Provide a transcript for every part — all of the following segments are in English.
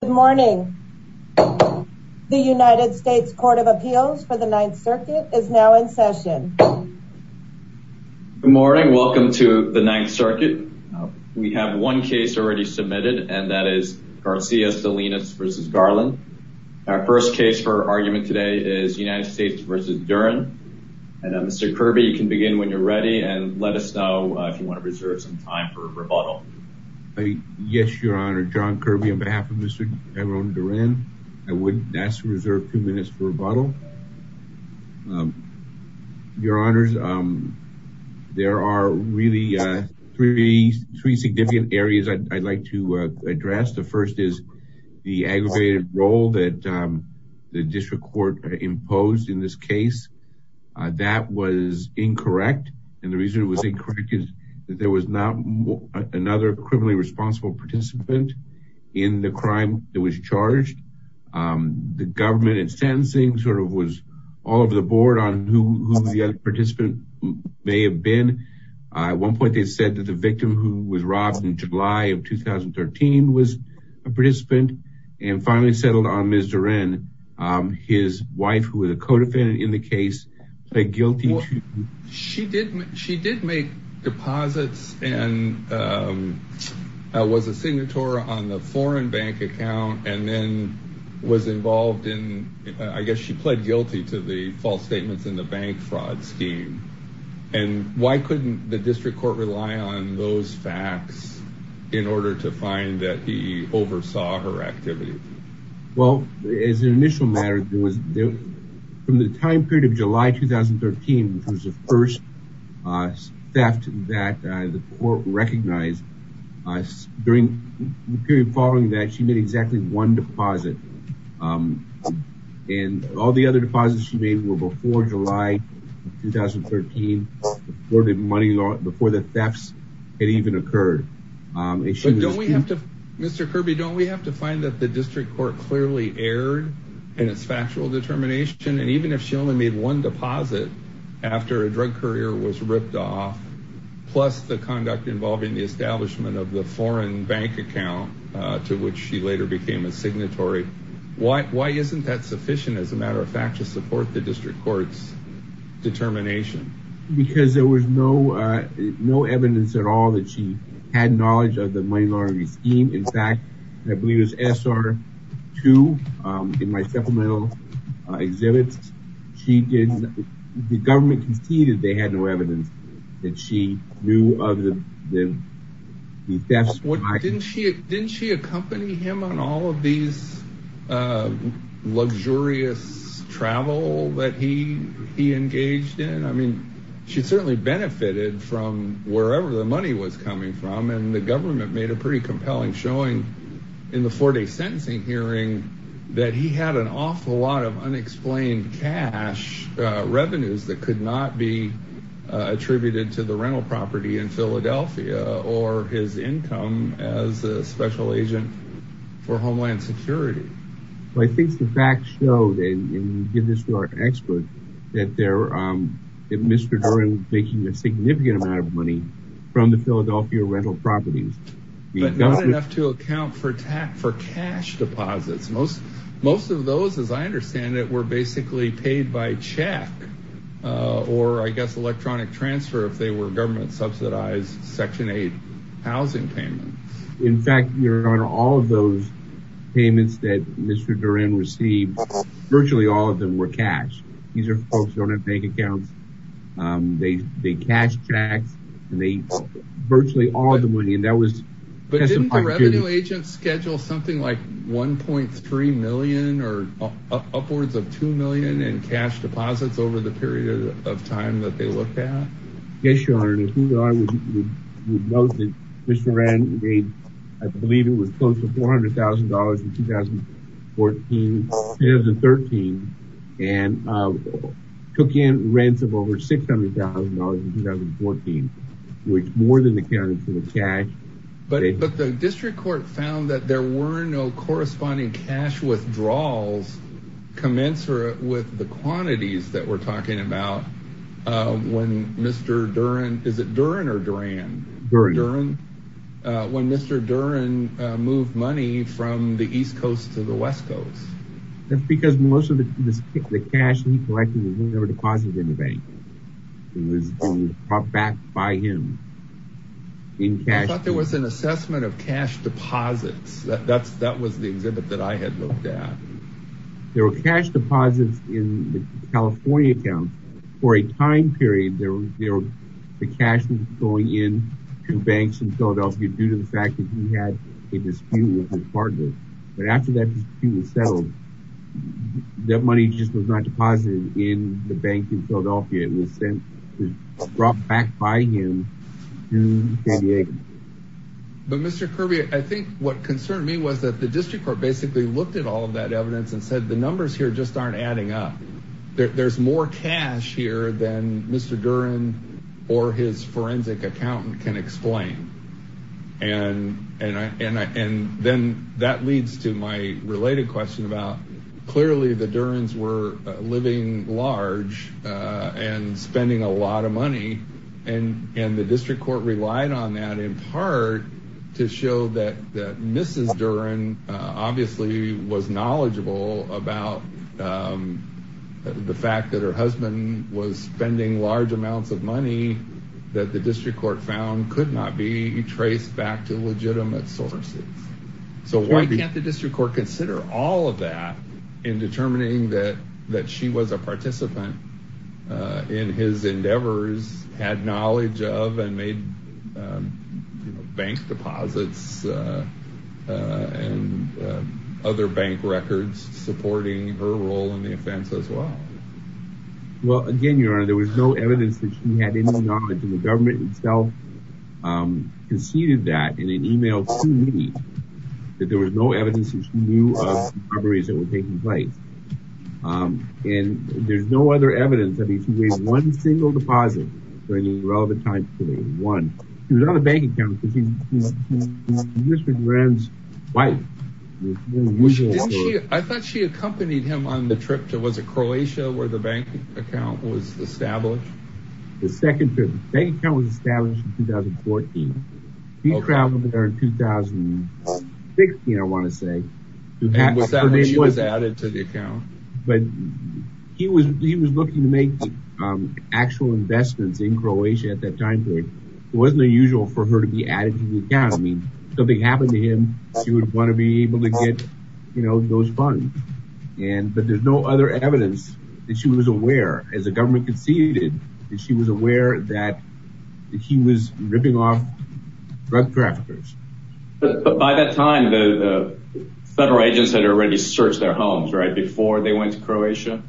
Good morning. The United States Court of Appeals for the Ninth Circuit is now in session. Good morning. Welcome to the Ninth Circuit. We have one case already submitted and that is Garcia Salinas v. Garland. Our first case for argument today is United States v. Duren. And Mr. Kirby, you can begin when you're ready and let us know if you want to reserve some time for rebuttal. Yes, Your Honor. John Kirby on behalf of Mr. Tyrone Duren, I would ask to reserve two minutes for rebuttal. Your Honors, there are really three significant areas I'd like to address. The first is the aggravated role that the district court imposed in this case. That was incorrect and the reason it was incorrect is that there was not another criminally responsible participant in the crime that was charged. The government and sentencing sort of was all over the board on who the other participant may have been. At one point they said that the victim who was robbed in July of 2013 was a participant and finally settled on Ms. Duren. His wife, who was a co-defendant in the case, played guilty. She did make deposits and was a signatory on the foreign bank account and then was involved in, I guess she played guilty to the false statements in the bank fraud scheme. And why couldn't the district court rely on those Well, as an initial matter, from the time period of July 2013, which was the first theft that the court recognized, during the period following that she made exactly one deposit. And all the other deposits she made were before July 2013, before the money, before the thefts had even occurred. But don't we have to, Mr. Kirby, don't we have to find that the district court clearly erred in its factual determination? And even if she only made one deposit after a drug courier was ripped off, plus the conduct involving the establishment of the foreign bank account, to which she later became a signatory, why isn't that sufficient, as a matter of fact, support the district court's determination? Because there was no evidence at all that she had knowledge of the money laundering scheme. In fact, I believe it was SR2, in my supplemental exhibits, the government conceded they had no evidence that she knew of the thefts. Didn't she accompany him on all of these luxurious travel that he engaged in? I mean, she certainly benefited from wherever the money was coming from. And the government made a pretty compelling showing in the four-day sentencing hearing that he had an awful lot of unexplained cash revenues that could not be attributed to the rental property in Philadelphia or his income as a special agent for Homeland Security. Well, I think the facts show, and you give this to our expert, that Mr. Doren was making a significant amount of money from the Philadelphia rental properties. But not enough to account for cash deposits. Most of those, as I understand it, were basically paid by check or, I guess, electronic transfer if they were government subsidized Section 8 housing payments. In fact, your honor, all of those payments that Mr. Doren received, virtually all of them were cash. These are folks who don't have bank accounts. They cashed tax and they virtually all the money. But didn't the revenue agent schedule something like $1.3 million or upwards of $2 million in cash deposits over the period of time that they looked at? Yes, your honor. We noted Mr. Doren made, I believe it was close to $400,000 in 2013 and took in rents of over $600,000 in 2014, which more than accounted for the cash. But the district court found that there were no corresponding cash withdrawals commensurate with the quantities that we're talking about when Mr. Doren, is it Duren or Duran? Duren. When Mr. Duren moved money from the east coast to the west coast. That's because most of the cash he collected was never deposited in the bank. It was brought back by him in cash. I thought there was an assessment of cash deposits. That was the exhibit that I had of that. There were cash deposits in the California account for a time period. There was the cash going in to banks in Philadelphia due to the fact that he had a dispute with his partner. But after that dispute was settled, that money just was not deposited in the bank in Philadelphia. It was sent, brought back by him to San Diego. But Mr. Kirby, I think what concerned me was that the district court basically looked at all of that evidence and said the numbers here just aren't adding up. There's more cash here than Mr. Duren or his forensic accountant can explain. And then that leads to my related question about clearly the Duren's were living large and spending a lot of money. And the district court relied on that in part to show that Mrs. Duren obviously was knowledgeable about the fact that her husband was spending large amounts of money that the district court found could not be traced back to legitimate sources. So why can't the district court consider all of that in determining that she was a participant in his endeavors, had knowledge of and made bank deposits and other bank records supporting her role in the offense as well? Well, again, Your Honor, there was no evidence that she had any knowledge and the government itself conceded that in an email to me that there was no evidence that she knew of in place. And there's no other evidence that she made one single deposit during the relevant time period, one. She was on a bank account because she was Mr. Duren's wife. I thought she accompanied him on the trip to, was it Croatia, where the bank account was established? The second trip, the bank account was established in 2014. He traveled there in 2016, I want to say, but he was looking to make actual investments in Croatia at that time period. It wasn't unusual for her to be added to the account. I mean, if something happened to him, she would want to be able to get, you know, those funds. But there's no other evidence that she was aware as the government conceded that she was aware that he was ripping off drug traffickers. But by that time, the federal agents had already searched their homes, right, before they went to Croatia?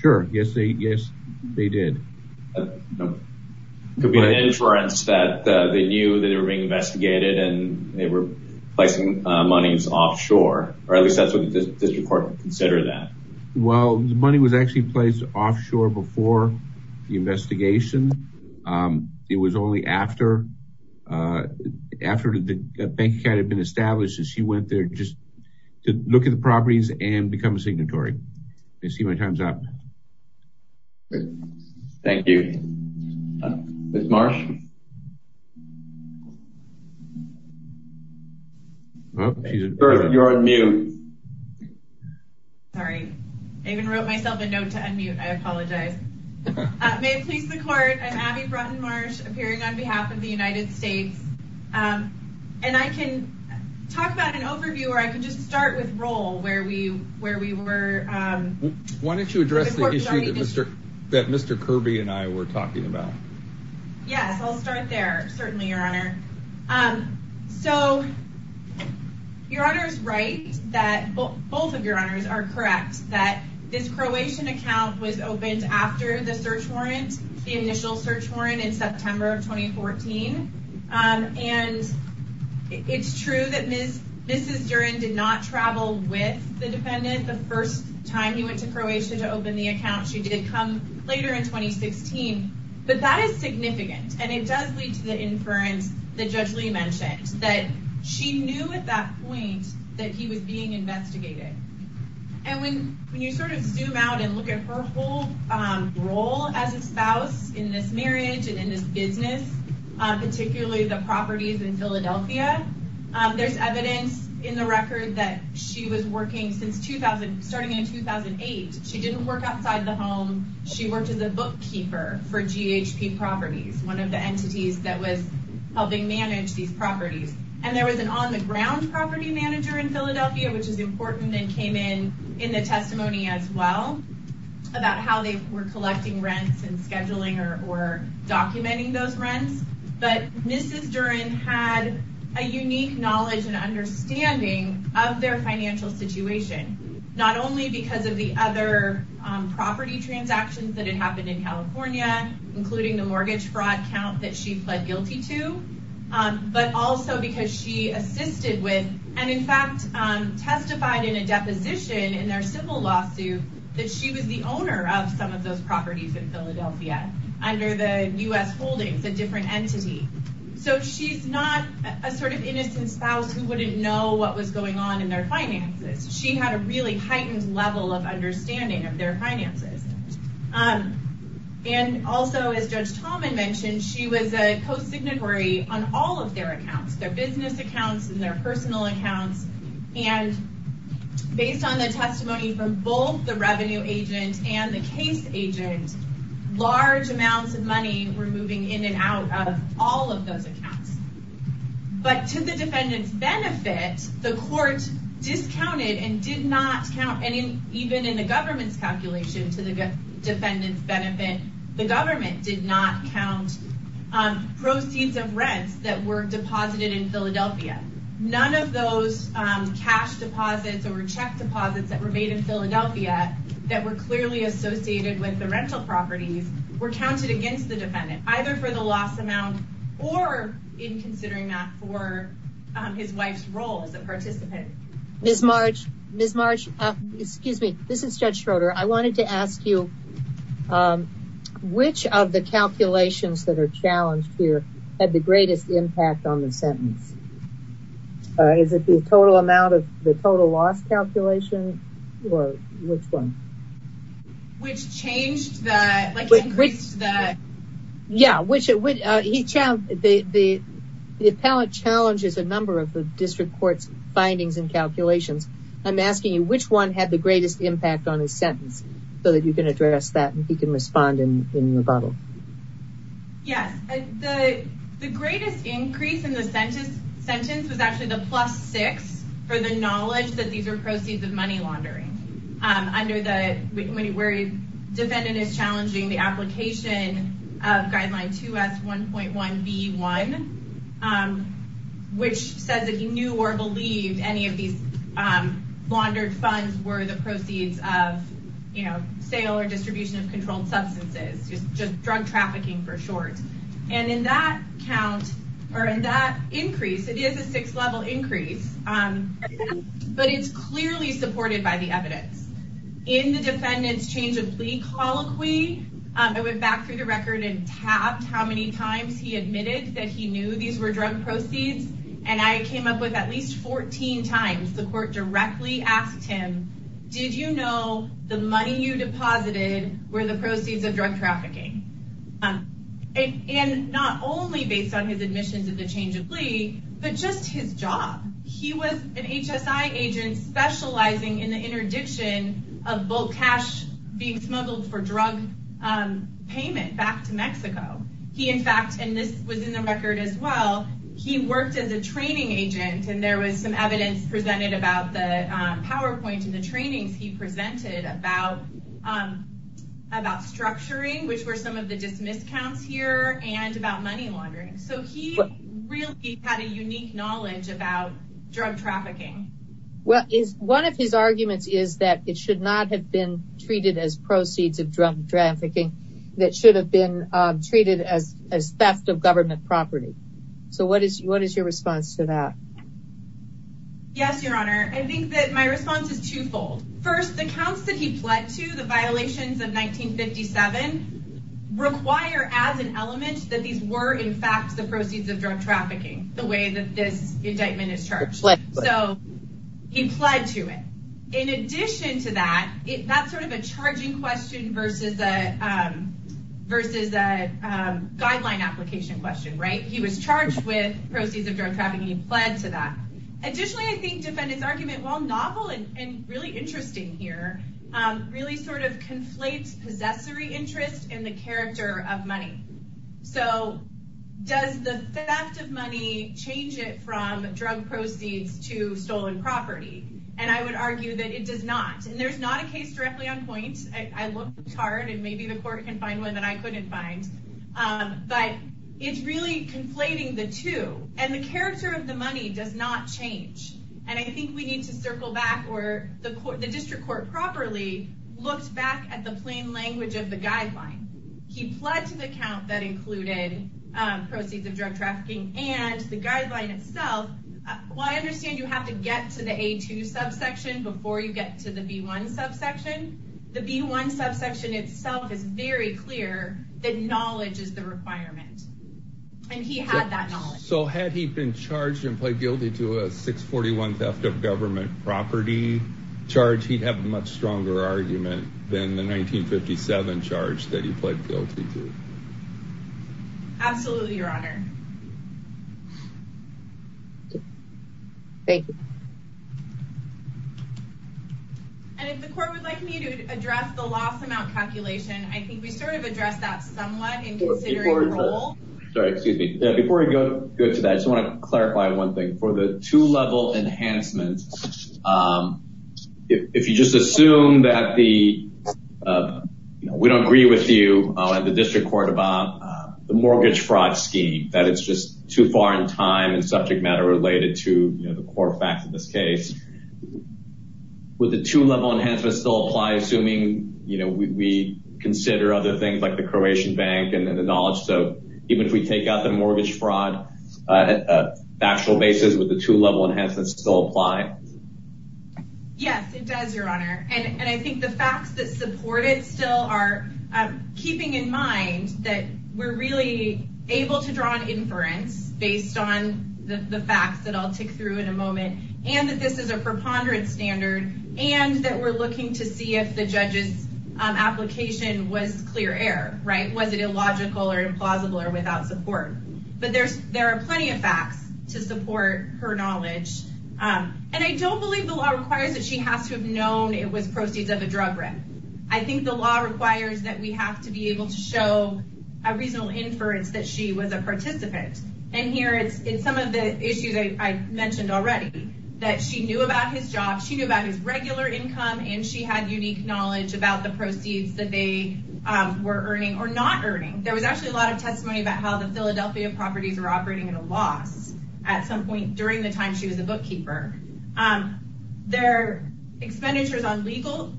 Sure. Yes, they did. It could be an inference that they knew that they were being investigated and they were placing monies offshore, or at least that's what the district court considered that. Well, the money was actually placed offshore before the investigation. It was only after the bank had been established that she went there just to look at the properties and become a signatory. I see my time's up. Thank you. Ms. Marsh? You're on mute. Sorry, I even wrote myself a note to unmute. I apologize. May it please the court, I'm Abby Brunton Marsh, appearing on behalf of the United States. And I can talk about an overview, or I can just start with Roel, where we were. Why don't you address the issue that Mr. Kirby and I were talking about? Yes, I'll start there. Certainly, Your Honor. So, Your Honor is right that both of Your Honors are correct, that this Croatian account was opened after the search warrant, the initial search warrant in September of 2014. And it's true that Mrs. Duren did not travel with the defendant the first time he went to Croatia to open the account. She did come later in 2016. But that is significant, and it does lead to the inference that Judge Lee mentioned, that she knew at that point that he was being investigated. And when you sort of zoom out and look at her whole role as a spouse in this marriage and in this business, particularly the properties in Philadelphia, there's evidence in the record that she was working since 2000, starting in 2008. She didn't work outside the home. She worked as a bookkeeper for GHP Properties, one of the in Philadelphia, which is important and came in in the testimony as well, about how they were collecting rents and scheduling or documenting those rents. But Mrs. Duren had a unique knowledge and understanding of their financial situation, not only because of the other property transactions that had happened in California, including the mortgage fraud count that she pled guilty to, but also because she assisted with, and in fact testified in a deposition in their civil lawsuit, that she was the owner of some of those properties in Philadelphia under the U.S. Holdings, a different entity. So she's not a sort of innocent spouse who wouldn't know what was going on in their finances. She had a really heightened level of understanding of their on all of their accounts, their business accounts and their personal accounts. And based on the testimony from both the revenue agent and the case agent, large amounts of money were moving in and out of all of those accounts. But to the defendant's benefit, the court discounted and did not count, and even in the government's calculation to the that were deposited in Philadelphia. None of those cash deposits or check deposits that were made in Philadelphia that were clearly associated with the rental properties were counted against the defendant, either for the loss amount or in considering that for his wife's role as a participant. Ms. Marsh, Ms. Marsh, excuse me, this is Judge Schroeder. I wanted to ask you which of the calculations that are challenged here had the greatest impact on the sentence? Is it the total amount of the total loss calculation or which one? Which changed that? Yeah, which he challenged. The appellate challenges a number of the district court's findings and calculations. I'm asking you which one had the greatest impact on his sentence so that you can address that and he can respond in rebuttal. Yes, the greatest increase in the sentence was actually the plus six for the knowledge that these are proceeds of money laundering under the defendant is challenging the application of guideline 2S1.1B1, which says that he knew or believed any of these funds were the proceeds of sale or distribution of controlled substances, just drug trafficking for short. In that count or in that increase, it is a sixth level increase, but it's clearly supported by the evidence. In the defendant's change of plea colloquy, I went back through the record and tabbed how many times he admitted that he knew these were drug proceeds. I came up at least 14 times. The court directly asked him, did you know the money you deposited were the proceeds of drug trafficking? And not only based on his admissions of the change of plea, but just his job. He was an HSI agent specializing in the interdiction of bulk cash being smuggled for drug payment back to Mexico. He in fact, and this was in the record as well, he worked as a training agent and there was some evidence presented about the PowerPoint and the trainings he presented about structuring, which were some of the dismissed counts here and about money laundering. So he really had a unique knowledge about drug trafficking. Well, one of his arguments is that it should not have been treated as proceeds of drug trafficking that should have been treated as theft of government property. So what is your response to that? Yes, your honor. I think that my response is twofold. First, the counts that he pled to, the violations of 1957, require as an element that these were in fact the proceeds of drug trafficking the way that this indictment is charged. So he pled to it. In addition to that, that's sort of a charging question versus a guideline application question, right? He was charged with proceeds of drug trafficking. He pled to that. Additionally, I think defendant's argument, while novel and really interesting here, really sort of conflates possessory interest and the character of money. So does the theft of money change it from drug proceeds to stolen property? And I would I looked hard and maybe the court can find one that I couldn't find. But it's really conflating the two. And the character of the money does not change. And I think we need to circle back where the court, the district court properly looked back at the plain language of the guideline. He pled to the count that included proceeds of drug trafficking and the guideline itself. While I understand you have to get to the A2 subsection before you get to the B1 subsection, the B1 subsection itself is very clear that knowledge is the requirement. And he had that knowledge. So had he been charged and pled guilty to a 641 theft of government property charge, he'd have a much stronger argument than the 1957 charge that he pled guilty to. Thank you. And if the court would like me to address the loss amount calculation, I think we sort of addressed that somewhat in considering the role. Sorry, excuse me. Before we go to that, I just want to clarify one thing. For the two-level enhancement, if you just assume that the, you know, we don't agree with you at the district court about the mortgage fraud scheme, that it's too far in time and subject matter related to, you know, the core facts of this case, would the two-level enhancement still apply, assuming, you know, we consider other things like the Croatian bank and the knowledge? So even if we take out the mortgage fraud factual basis, would the two-level enhancement still apply? Yes, it does, Your Honor. And I think the facts that support it still are keeping in mind that we're really able to draw an inference based on the facts that I'll tick through in a moment, and that this is a preponderance standard, and that we're looking to see if the judge's application was clear air, right? Was it illogical or implausible or without support? But there are plenty of facts to support her knowledge. And I don't believe the law requires that she has to have known it was proceeds of a drug rip. I think the law requires that we have to be able to show a reasonable inference that she was a participant. And here, it's some of the issues I mentioned already, that she knew about his job, she knew about his regular income, and she had unique knowledge about the proceeds that they were earning or not earning. There was actually a lot of testimony about how the Philadelphia properties were operating at a loss at some point during the time she was a bookkeeper. Their expenditures on legal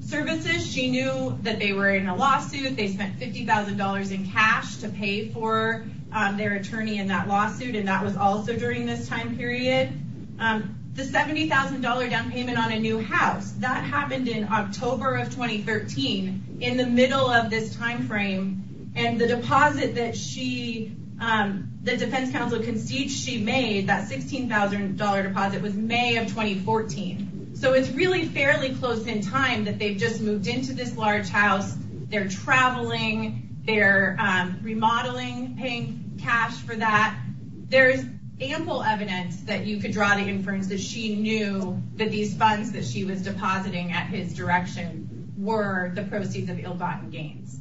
services, she knew that they were in a lawsuit. They spent $50,000 in cash to pay for their attorney in that lawsuit, and that was also during this time period. The $70,000 down payment on a new house, that happened in October of 2013, in the middle of this timeframe. And the deposit that the defense counsel conceded she made, that $16,000 deposit, was May of 2014. So it's really fairly close in time that they've just moved into this large house, they're traveling, they're remodeling, paying cash for that. There's ample evidence that you could draw the inference that she knew that these funds that she was depositing at his direction were the proceeds of ill-gotten gains.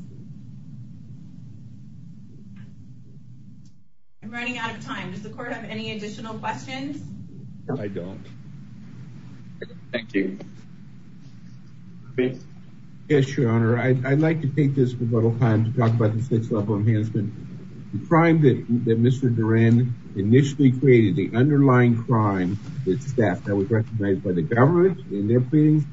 I'm running out of time. Does the court have any questions? Yes, your honor. I'd like to take this little time to talk about the sixth level enhancement. The crime that Mr. Duran initially created, the underlying crime, the theft that was recognized by the government in their pleadings,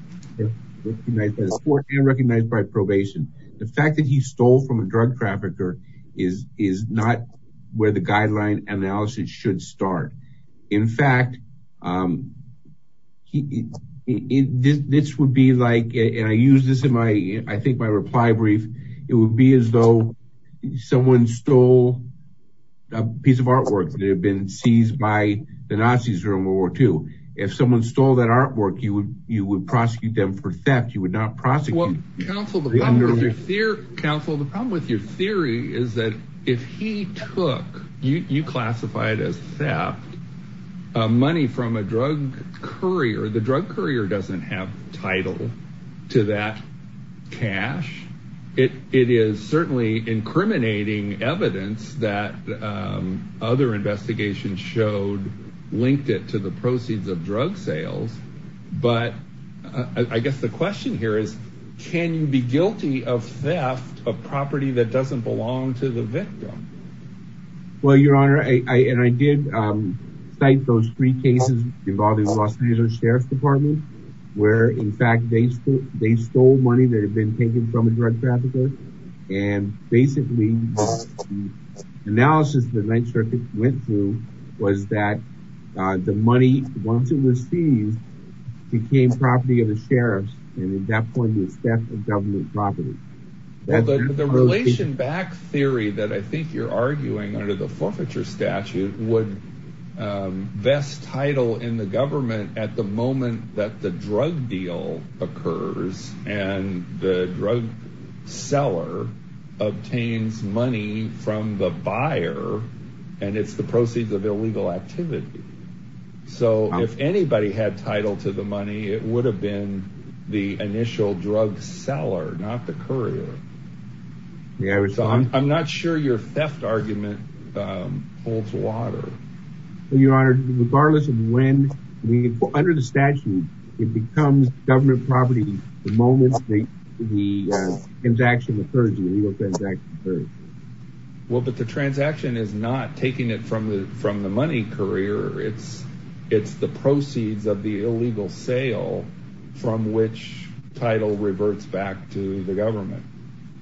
recognized by the court, and recognized by probation. The fact that he stole from a drug trafficker is not where the guideline analysis should start. In fact, this would be like, and I use this in my, I think my reply brief, it would be as though someone stole a piece of artwork that had been seized by the Nazis during World War II. If someone stole that artwork, you would prosecute them for theft, you would not prosecute. Counsel, the problem with your theory is that if he took, you classified as theft, money from a drug courier, the drug courier doesn't have title to that cash. It is certainly incriminating evidence that other investigations showed linked it to the proceeds of drug sales. But I guess the question here is, can you be guilty of theft of property that doesn't belong to the victim? Well, your honor, I did cite those three cases involving the Los Angeles Sheriff's Department, where in fact they stole money that had been taken from a drug trafficker. And basically, the analysis the Ninth Circuit went through was that the money, once it was seized, became property of the sheriffs. And at that point, it was theft of government property. The relation back theory that I think you're arguing under the forfeiture statute would vest title in the government at the moment that the drug deal occurs and the drug seller obtains money from the buyer, and it's the proceeds of illegal activity. So if anybody had title to the money, it would have been the initial drug seller, not the courier. I'm not sure your theft argument holds water. Your honor, regardless of when, under the statute, it becomes government property the moment the transaction occurs. But the transaction is not taking it from the money courier. It's the proceeds of the illegal sale from which title reverts back to the government.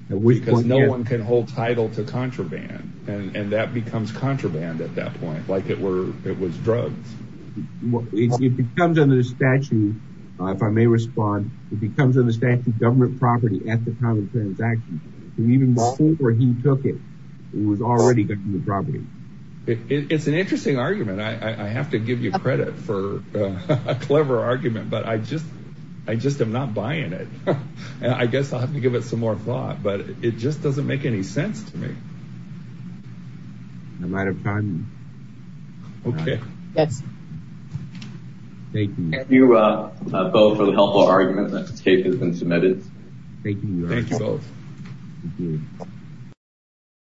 Because no one can hold title to contraband. And that becomes contraband at that point, like it was drugs. It becomes under the statute, if I may respond, it becomes under the statute government property at the time of the transaction. And even before he took it, it was already government property. It's an interesting argument. I have to give you credit for a clever argument, but I just, I just am not buying it. I guess I'll have to give it some more thought, but it just doesn't make any sense to me. I'm out of time. Okay. Yes. Thank you. Thank you both for the helpful argument that this case has been submitted. Thank you. Thank you both.